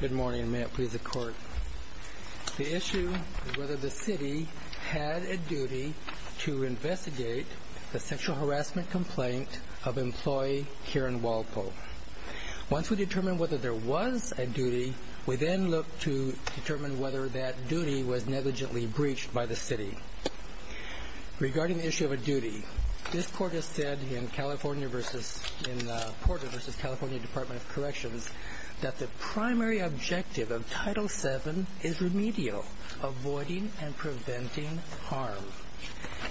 Good morning. May it please the Court. The issue is whether the City had a duty to investigate the sexual harassment complaint of employee Karen Walpole. Once we determine whether there was a duty, we then look to determine whether that duty was negligently breached by the City. Regarding the issue of a duty, this Court has said in Porter v. California Department of Corrections that the primary objective of Title VII is remedial, avoiding and preventing harm.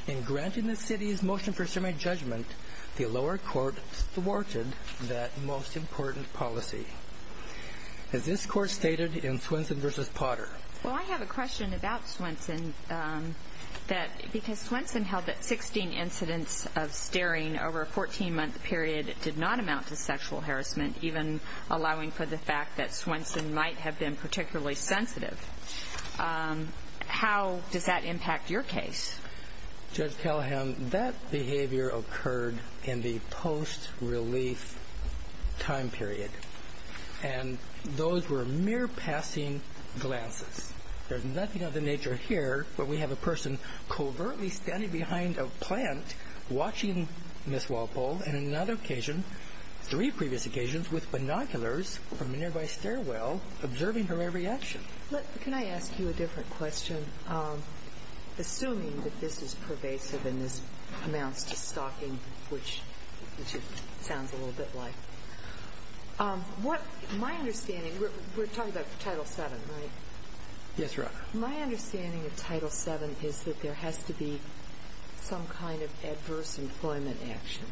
In granting the City's motion for a summary judgment, the lower court thwarted that most important policy. As this Court stated in Swenson v. Potter, Well, I have a question about Swenson. Because Swenson held that 16 incidents of staring over a 14-month period did not amount to sexual harassment, even allowing for the fact that Swenson might have been particularly sensitive, how does that impact your case? Judge Callahan, that behavior occurred in the post-relief time period. And those were mere passing glances. There's nothing of the nature here where we have a person covertly standing behind a plant watching Ms. Walpole in another occasion, three previous occasions, with binoculars from a nearby stairwell observing her every action. Can I ask you a different question? Assuming that this is pervasive and this amounts to stalking, which it sounds a little bit like, what my understanding, we're talking about Title VII, right? Yes, Your Honor. My understanding of Title VII is that there has to be some kind of adverse employment action.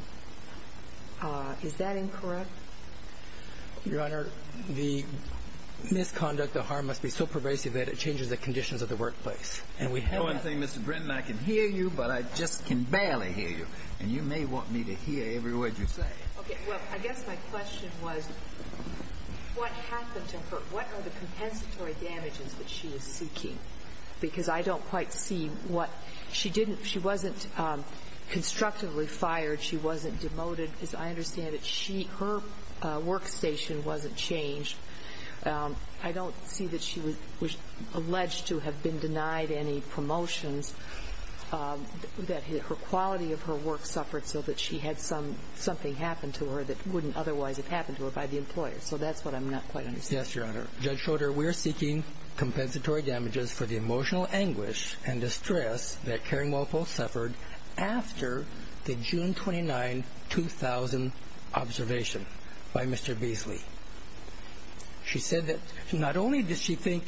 Is that incorrect? Your Honor, the misconduct, the harm must be so pervasive that it changes the conditions of the workplace. And we have that. One thing, Mr. Britton, I can hear you, but I just can barely hear you. And you may want me to hear every word you say. Okay. Well, I guess my question was, what happened to her? What are the compensatory damages that she is seeking? Because I don't quite see what she didn't – she wasn't constructively fired. She wasn't demoted. As I understand it, her workstation wasn't changed. I don't see that she was alleged to have been denied any promotions, that her quality of her work suffered so that she had something happen to her that wouldn't otherwise have happened to her by the employer. So that's what I'm not quite understanding. Yes, Your Honor. Judge Schroeder, we are seeking compensatory damages for the emotional anguish and distress that Karen Walpole suffered after the June 29, 2000 observation by Mr. Beasley. She said that not only did she think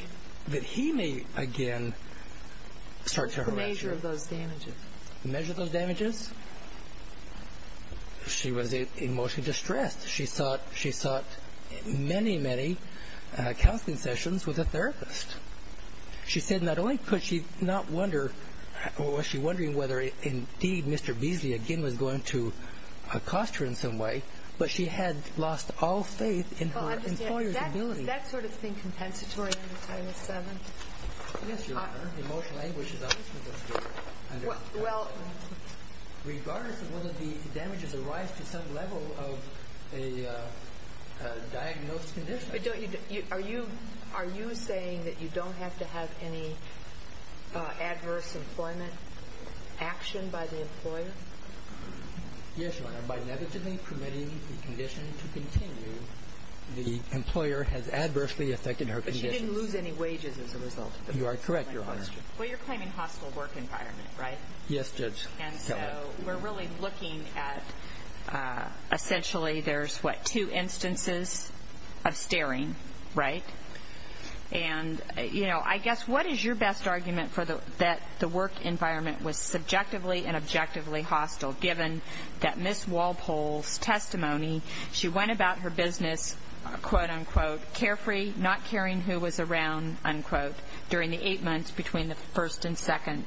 that he may again start to harass her. What's the measure of those damages? The measure of those damages? She was emotionally distressed. She sought many, many counseling sessions with a therapist. She said not only could she not wonder – was she wondering whether indeed Mr. Beasley again was going to accost her in some way, but she had lost all faith in her employer's ability. Is that sort of thing compensatory under Title VII? Yes, Your Honor. Emotional anguish is obviously what's going on. Regardless of whether the damages arise to some level of a diagnosed condition. Are you saying that you don't have to have any adverse employment action by the employer? Yes, Your Honor. By inevitably permitting the condition to continue, the employer has adversely affected her condition. But she didn't lose any wages as a result of this? You are correct, Your Honor. Well, you're claiming hostile work environment, right? Yes, Judge. And so we're really looking at essentially there's, what, two instances of staring, right? And, you know, I guess what is your best argument that the work environment was subjectively and objectively hostile, given that Ms. Walpole's testimony, she went about her business, quote, unquote, carefree, not caring who was around, unquote, during the eight months between the first and second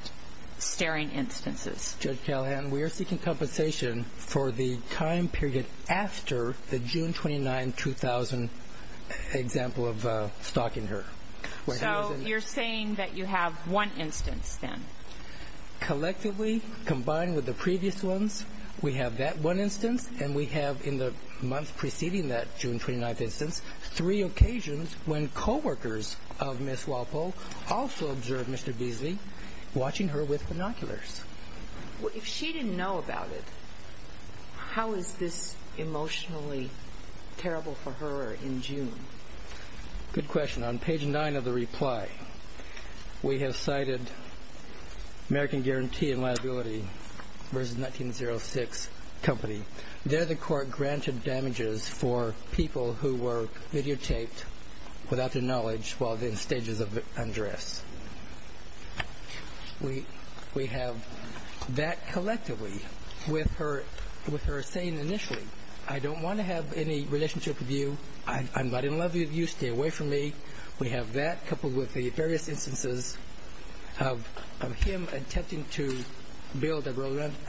staring instances. Judge Callahan, we are seeking compensation for the time period after the June 29, 2000 example of stalking her. So you're saying that you have one instance then? Collectively, combined with the previous ones, we have that one instance, and we have in the month preceding that June 29 instance three occasions when coworkers of Ms. Walpole also observed Mr. Beasley watching her with binoculars. If she didn't know about it, how is this emotionally terrible for her in June? Good question. On page nine of the reply, we have cited American Guarantee and Liability versus 1906 Company. There the court granted damages for people who were videotaped without their knowledge while in stages of undress. We have that collectively with her saying initially, I don't want to have any relationship with you, I'm not in love with you, stay away from me. We have that coupled with the various instances of him attempting to build a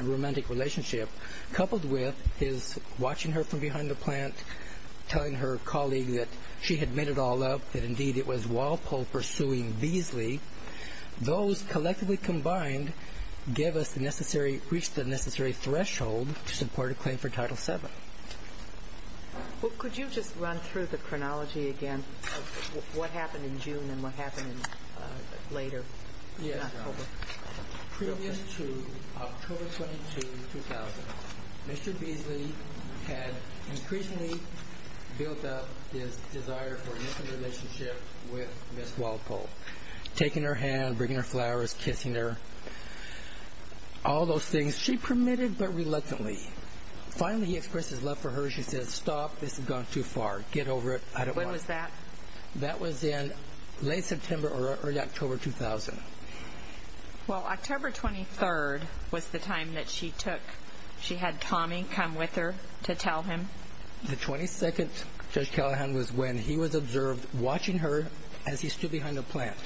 romantic relationship, coupled with his watching her from behind the plant, telling her colleague that she had made it all up, that indeed it was Walpole pursuing Beasley. Those collectively combined gave us the necessary, reached the necessary threshold to support a claim for Title VII. Could you just run through the chronology again of what happened in June and what happened later in October? Previous to October 22, 2000, Mr. Beasley had increasingly built up his desire for an intimate relationship with Ms. Walpole, taking her hand, bringing her flowers, kissing her, all those things she permitted but reluctantly. Finally he expressed his love for her, she said, stop, this has gone too far, get over it, I don't want it. When was that? That was in late September or early October 2000. Well, October 23rd was the time that she took, she had Tommy come with her to tell him. The 22nd, Judge Callahan, was when he was observed watching her as he stood behind the plant.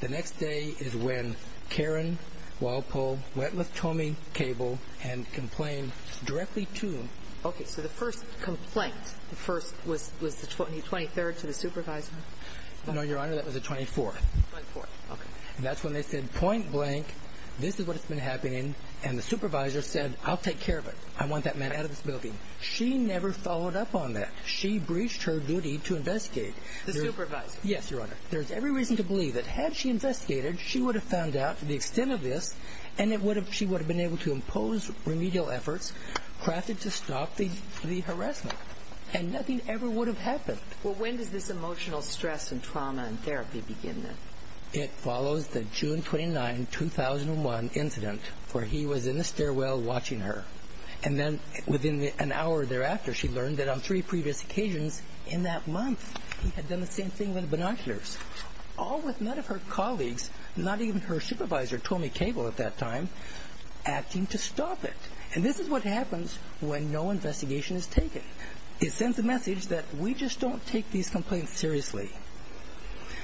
The next day is when Karen Walpole went with Tommy Cable and complained directly to him. Okay, so the first complaint, the first was the 23rd to the supervisor? No, Your Honor, that was the 24th. 24th, okay. And that's when they said point blank, this is what's been happening, and the supervisor said, I'll take care of it, I want that man out of this building. She never followed up on that. She breached her duty to investigate. The supervisor? Yes, Your Honor. There's every reason to believe that had she investigated, she would have found out the extent of this and she would have been able to impose remedial efforts crafted to stop the harassment. And nothing ever would have happened. Well, when does this emotional stress and trauma and therapy begin then? It follows the June 29, 2001 incident where he was in the stairwell watching her. And then within an hour thereafter she learned that on three previous occasions in that month he had done the same thing with binoculars, all with none of her colleagues, not even her supervisor, Tommy Cable at that time, acting to stop it. And this is what happens when no investigation is taken. It sends a message that we just don't take these complaints seriously.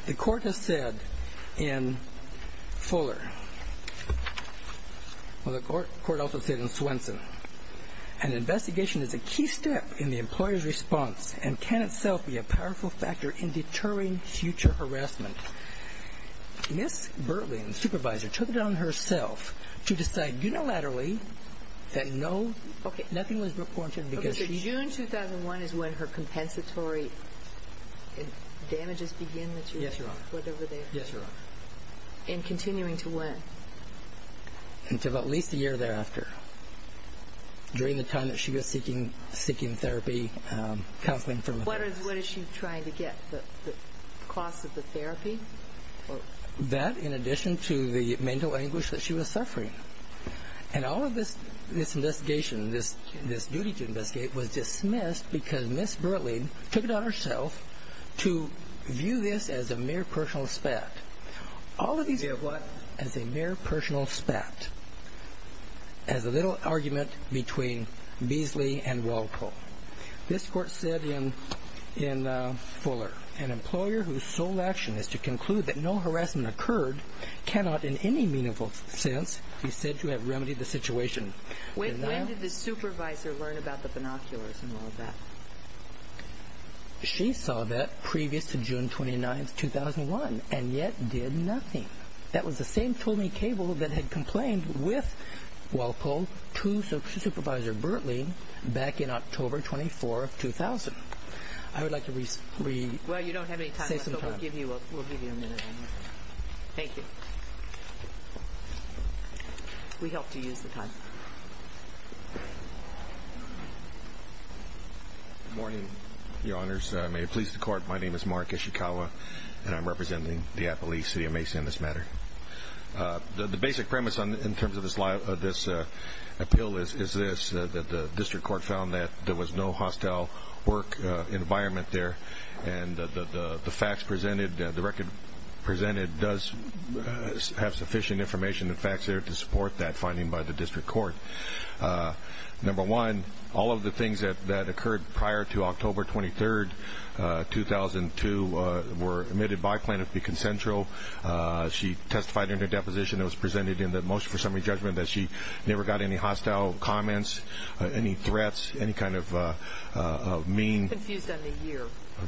The court has said in Fuller, well, the court also said in Swenson, an investigation is a key step in the employer's response and can itself be a powerful factor in deterring future harassment. Ms. Bertley, the supervisor, took it on herself to decide unilaterally that nothing was reported because she Okay, so June 2001 is when her compensatory damages begin that you're saying? Yes, Your Honor. Whatever they are. Yes, Your Honor. And continuing to when? Until at least a year thereafter. During the time that she was seeking therapy, counseling from a therapist. What is she trying to get, the cost of the therapy? That in addition to the mental anguish that she was suffering. And all of this investigation, this duty to investigate was dismissed because Ms. Bertley took it on herself to view this as a mere personal aspect. View what? As a mere personal aspect. As a little argument between Beasley and Walco. This court said in Fuller, an employer whose sole action is to conclude that no harassment occurred cannot in any meaningful sense be said to have remedied the situation. When did the supervisor learn about the binoculars and all of that? She saw that previous to June 29, 2001, and yet did nothing. That was the same Tony Cable that had complained with Walco to Supervisor Bertley back in October 24, 2000. I would like to re- Well, you don't have any time left, but we'll give you a minute. Thank you. We hope to use the time. Good morning, Your Honors. May it please the Court, my name is Mark Ishikawa, and I'm representing the Appalachee City of Mason in this matter. The basic premise in terms of this appeal is this, that the district court found that there was no hostile work environment there, and the facts presented, the record presented does have sufficient information and facts there to support that finding by the district court. Number one, all of the things that occurred prior to October 23, 2002, were admitted by plaintiff to be consensual. She testified in her deposition that was presented in the motion for summary judgment that she never got any hostile comments, any threats, any kind of mean- I'm confused on the year.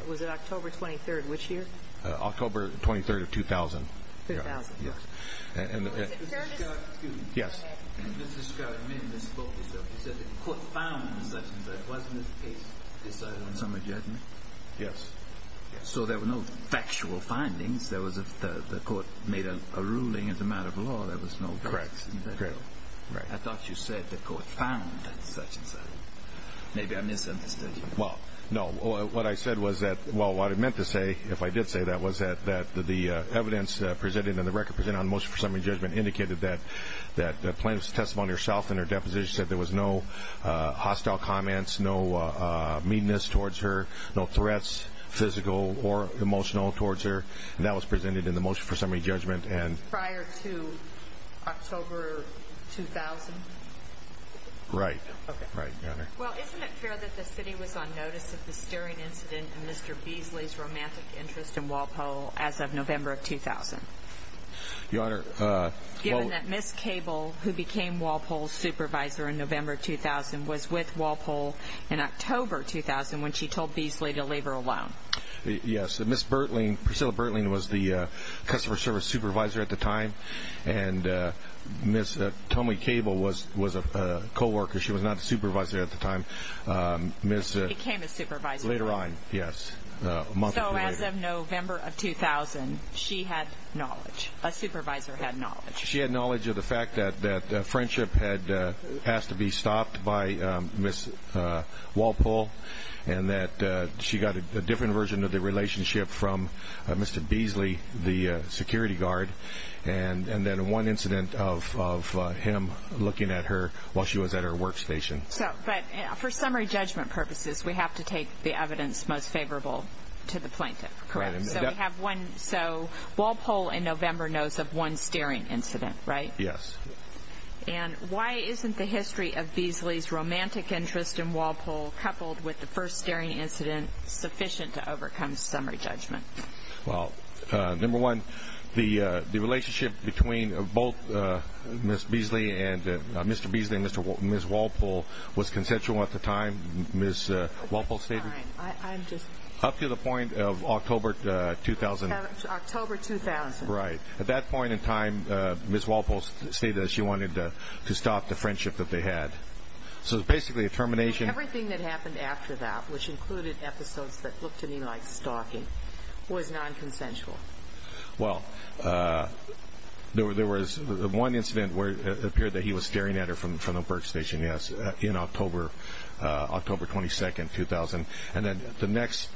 Was it October 23rd, which year? October 23rd of 2000. 2000. Mr. Scott, excuse me. Yes. Mr. Scott, you said the court found such and such. Wasn't this case decided on summary judgment? Yes. So there were no factual findings. The court made a ruling as a matter of law. There was no facts. Correct. I thought you said the court found such and such. Maybe I misunderstood you. Well, no. What I meant to say, if I did say that, was that the evidence presented in the record presented on the motion for summary judgment indicated that the plaintiff's testimony herself in her deposition said there was no hostile comments, no meanness towards her, no threats, physical or emotional, towards her, and that was presented in the motion for summary judgment. Prior to October 2000? Right. Okay. Well, isn't it fair that the city was on notice of the stirring incident and Mr. Beasley's romantic interest in Walpole as of November of 2000? Your Honor. Given that Ms. Cable, who became Walpole's supervisor in November of 2000, was with Walpole in October 2000 when she told Beasley to leave her alone. Yes. Ms. Bertling, Priscilla Bertling, was the customer service supervisor at the time, and Ms. Tommy Cable was a co-worker. She was not the supervisor at the time. She became a supervisor. Later on, yes. A month or two later. So as of November of 2000, she had knowledge. A supervisor had knowledge. She had knowledge of the fact that friendship had asked to be stopped by Ms. Walpole and that she got a different version of the relationship from Mr. Beasley, the security guard, and then one incident of him looking at her while she was at her workstation. But for summary judgment purposes, we have to take the evidence most favorable to the plaintiff, correct? Correct. So Walpole in November knows of one staring incident, right? Yes. And why isn't the history of Beasley's romantic interest in Walpole, coupled with the first staring incident, sufficient to overcome summary judgment? Well, number one, the relationship between both Mr. Beasley and Ms. Walpole was consensual at the time. Ms. Walpole stated up to the point of October 2000. October 2000. Right. At that point in time, Ms. Walpole stated that she wanted to stop the friendship that they had. So it was basically a termination. Everything that happened after that, which included episodes that looked to me like stalking, was nonconsensual. Well, there was one incident where it appeared that he was staring at her from the workstation, yes, in October 22, 2000. And then the next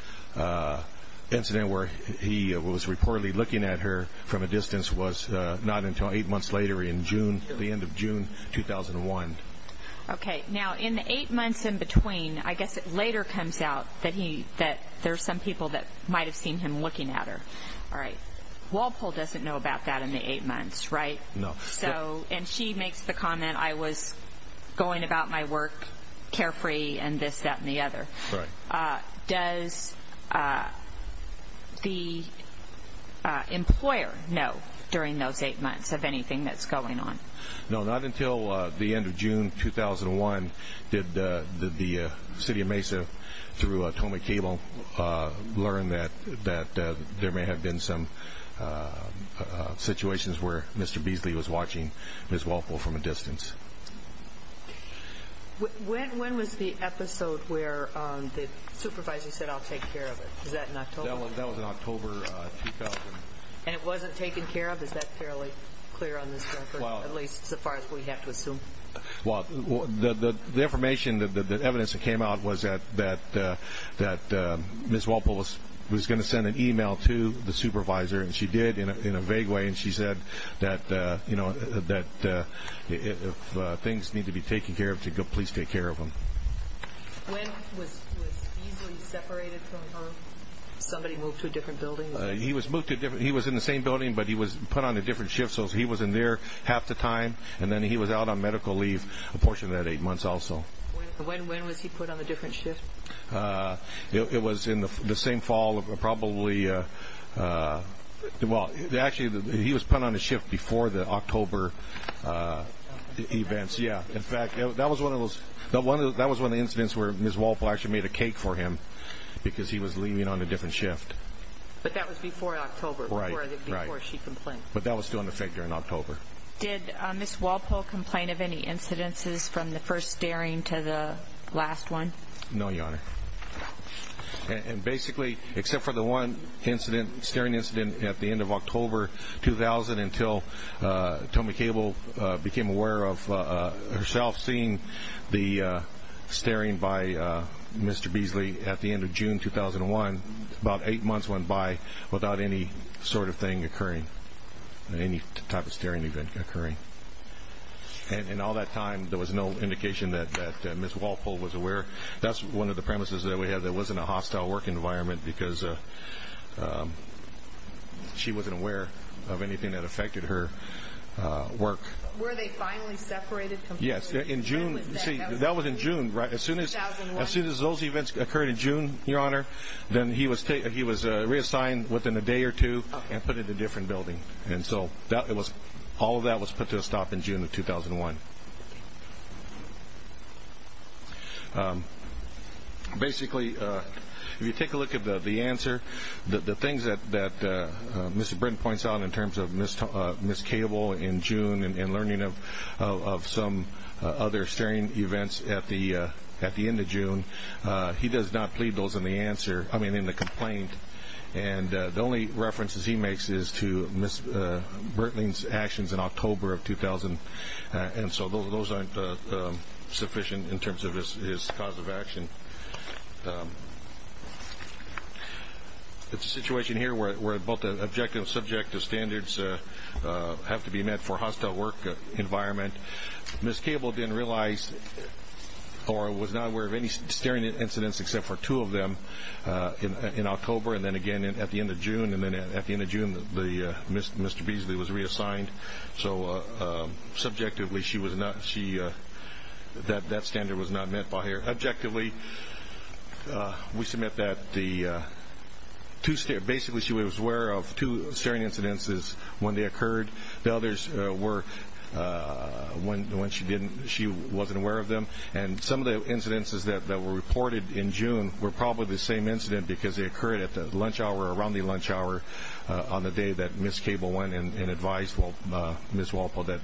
incident where he was reportedly looking at her from a distance was not until eight months later in June, at the end of June 2001. Okay. Now, in the eight months in between, I guess it later comes out that there are some people that might have seen him looking at her. All right. Walpole doesn't know about that in the eight months, right? No. And she makes the comment, I was going about my work carefree and this, that, and the other. Right. Does the employer know during those eight months of anything that's going on? No, not until the end of June 2001 did the city of Mesa, through Tomei Cable, learn that there may have been some situations where Mr. Beasley was watching Ms. Walpole from a distance. When was the episode where the supervisor said, I'll take care of it? Was that in October? That was in October 2000. And it wasn't taken care of? Is that fairly clear on this record, at least so far as we have to assume? Well, the information, the evidence that came out was that Ms. Walpole was going to send an email to the supervisor, and she did in a vague way, and she said that if things need to be taken care of, please take care of them. When was Beasley separated from her? Somebody moved to a different building? He was in the same building, but he was put on a different shift, so he was in there half the time, and then he was out on medical leave a portion of that eight months also. When was he put on a different shift? It was in the same fall, probably. Well, actually, he was put on a shift before the October events, yeah. In fact, that was one of the incidents where Ms. Walpole actually made a cake for him because he was leaving on a different shift. But that was before October, before she complained. But that was still in effect during October. Did Ms. Walpole complain of any incidences from the first staring to the last one? No, Your Honor. And basically, except for the one staring incident at the end of October 2000, until Tomi Cable became aware of herself seeing the staring by Mr. Beasley at the end of June 2001, about eight months went by without any sort of thing occurring, any type of staring event occurring. In all that time, there was no indication that Ms. Walpole was aware. That's one of the premises that we have that wasn't a hostile work environment because she wasn't aware of anything that affected her work. Were they finally separated completely? Yes, in June. See, that was in June, right? As soon as those events occurred in June, Your Honor, then he was reassigned within a day or two and put into a different building. And so all of that was put to a stop in June of 2001. Basically, if you take a look at the answer, the things that Mr. Britton points out in terms of Ms. Cable in June and learning of some other staring events at the end of June, he does not plead those in the answer, I mean in the complaint. The only references he makes is to Ms. Britton's actions in October of 2000, and so those aren't sufficient in terms of his cause of action. It's a situation here where both the objective and subjective standards have to be met for hostile work environment. Ms. Cable didn't realize or was not aware of any staring incidents except for two of them in October, and then again at the end of June. And then at the end of June, Mr. Beasley was reassigned. So subjectively, that standard was not met by her. Objectively, we submit that basically she was aware of two staring incidences when they occurred. The others were when she wasn't aware of them. And some of the incidences that were reported in June were probably the same incident because they occurred at lunch hour, around the lunch hour, on the day that Ms. Cable went and advised Ms. Walpole that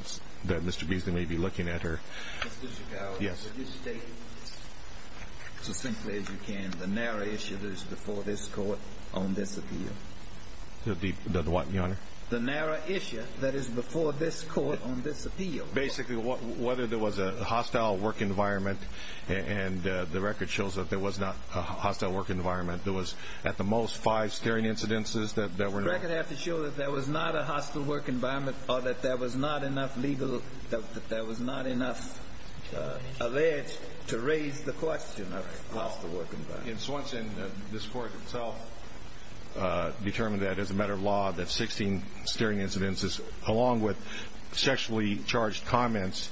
Mr. Beasley may be looking at her. Mr. Chagall, would you state as simply as you can the narrow issue that is before this Court on this appeal? The what, Your Honor? The narrow issue that is before this Court on this appeal. Basically, whether there was a hostile work environment, and the record shows that there was not a hostile work environment. There was, at the most, five staring incidences that were not. The record has to show that there was not a hostile work environment or that there was not enough legal, that there was not enough alleged to raise the question of a hostile work environment. In Swanson, this Court itself determined that as a matter of law, that 16 staring incidences, along with sexually charged comments,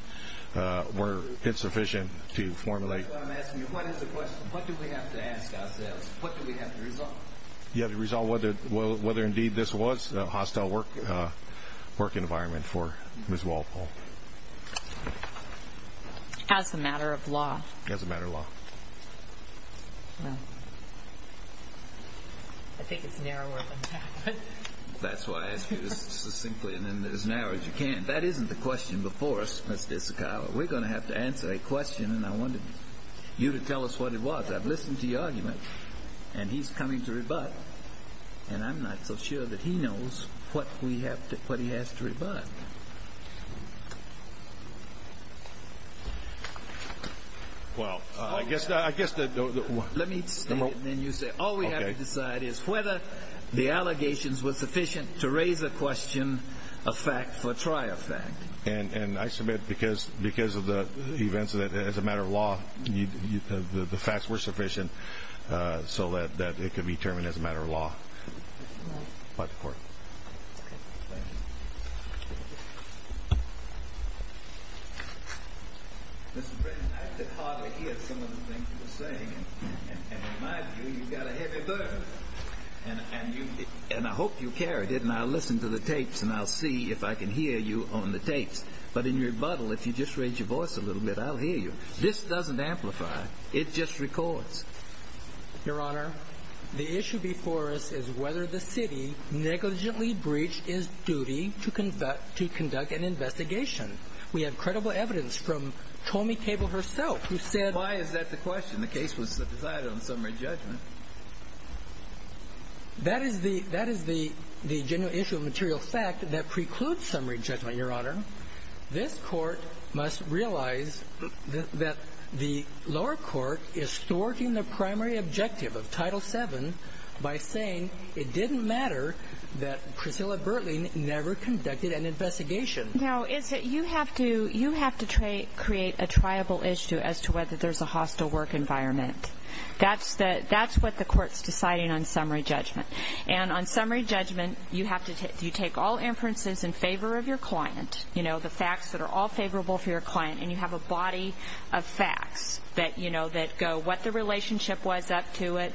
were insufficient to formulate. I'm asking you, what is the question? What do we have to ask ourselves? What do we have to resolve? You have to resolve whether indeed this was a hostile work environment for Ms. Walpole. As a matter of law. As a matter of law. Well, I think it's narrower than that. That's why I ask you this succinctly and as narrow as you can. That isn't the question before us, Ms. Disikow. We're going to have to answer a question, and I wanted you to tell us what it was. I've listened to your argument, and he's coming to rebut, and I'm not so sure that he knows what he has to rebut. What? Well, I guess the – Let me state it, and then you say it. All we have to decide is whether the allegations were sufficient to raise a question, a fact, or try a fact. And I submit because of the events as a matter of law, the facts were sufficient so that it could be determined as a matter of law by the Court. Thank you. Mr. President, I could hardly hear some of the things you were saying, and in my view, you've got a heavy burden. And I hope you carried it, and I'll listen to the tapes, and I'll see if I can hear you on the tapes. But in your rebuttal, if you just raise your voice a little bit, I'll hear you. This doesn't amplify. It just records. Your Honor, the issue before us is whether the city negligently breached its duty to conduct an investigation. We have credible evidence from Tomie Cable herself, who said – Why is that the question? The case was decided on summary judgment. That is the genuine issue of material fact that precludes summary judgment, Your Honor. This Court must realize that the lower court is thwarting the primary objective of Title VII by saying it didn't matter that Priscilla Bertling never conducted an investigation. No. You have to create a triable issue as to whether there's a hostile work environment. That's what the Court's deciding on summary judgment. And on summary judgment, you take all inferences in favor of your client, the facts that are all favorable for your client, and you have a body of facts that go what the relationship was up to it,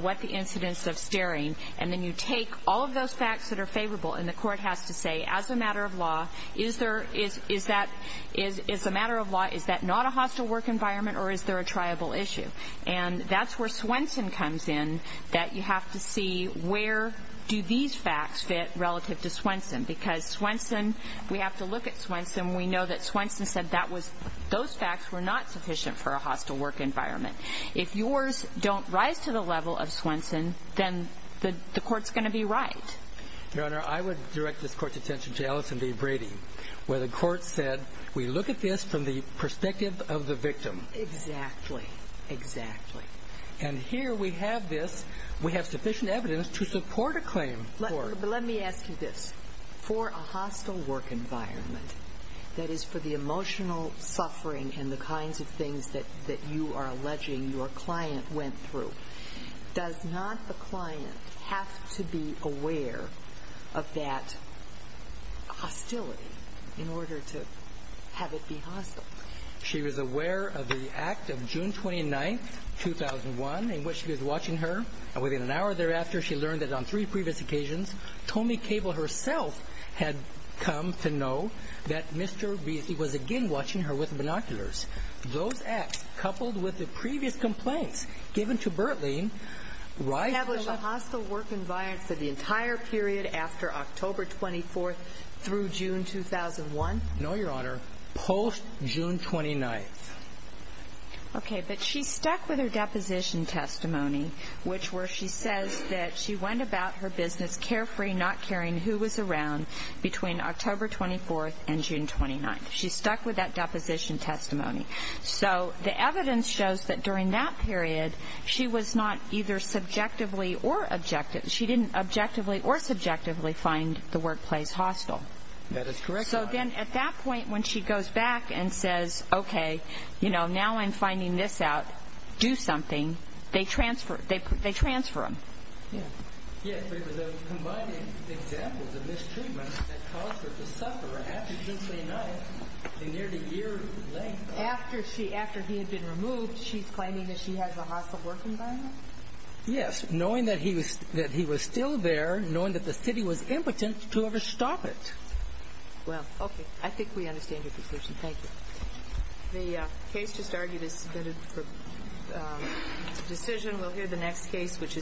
what the incidence of staring, and then you take all of those facts that are favorable, and the Court has to say, as a matter of law, is that not a hostile work environment or is there a triable issue? And that's where Swenson comes in that you have to see where do these facts fit relative to Swenson because Swenson – we have to look at Swenson. We know that Swenson said that was – those facts were not sufficient for a hostile work environment. If yours don't rise to the level of Swenson, then the Court's going to be right. Your Honor, I would direct this Court's attention to Allison v. Brady, where the Court said, we look at this from the perspective of the victim. Exactly. Exactly. And here we have this. We have sufficient evidence to support a claim. But let me ask you this. For a hostile work environment, that is, for the emotional suffering and the kinds of things that you are alleging your client went through, does not the client have to be aware of that hostility in order to have it be hostile? She was aware of the act of June 29, 2001, in which she was watching her. And within an hour thereafter, she learned that on three previous occasions, Tony Cable herself had come to know that Mr. Beasley was again watching her with binoculars. Those acts, coupled with the previous complaints given to Birtling, rise to the – Establish a hostile work environment for the entire period after October 24 through June 2001? No, Your Honor. Post-June 29. Okay. But she stuck with her deposition testimony, which where she says that she went about her business carefree, not caring who was around between October 24 and June 29. She stuck with that deposition testimony. So the evidence shows that during that period, she was not either subjectively or objective – she didn't objectively or subjectively find the workplace hostile. That is correct, Your Honor. So then at that point, when she goes back and says, okay, you know, now I'm finding this out, do something, they transfer them. Yes, but it was the combined examples of mistreatment that caused her to suffer after June 29, a year to a year later. After he had been removed, she's claiming that she has a hostile work environment? Yes, knowing that he was still there, knowing that the city was impotent to ever stop it. Well, okay. I think we understand your position. Thank you.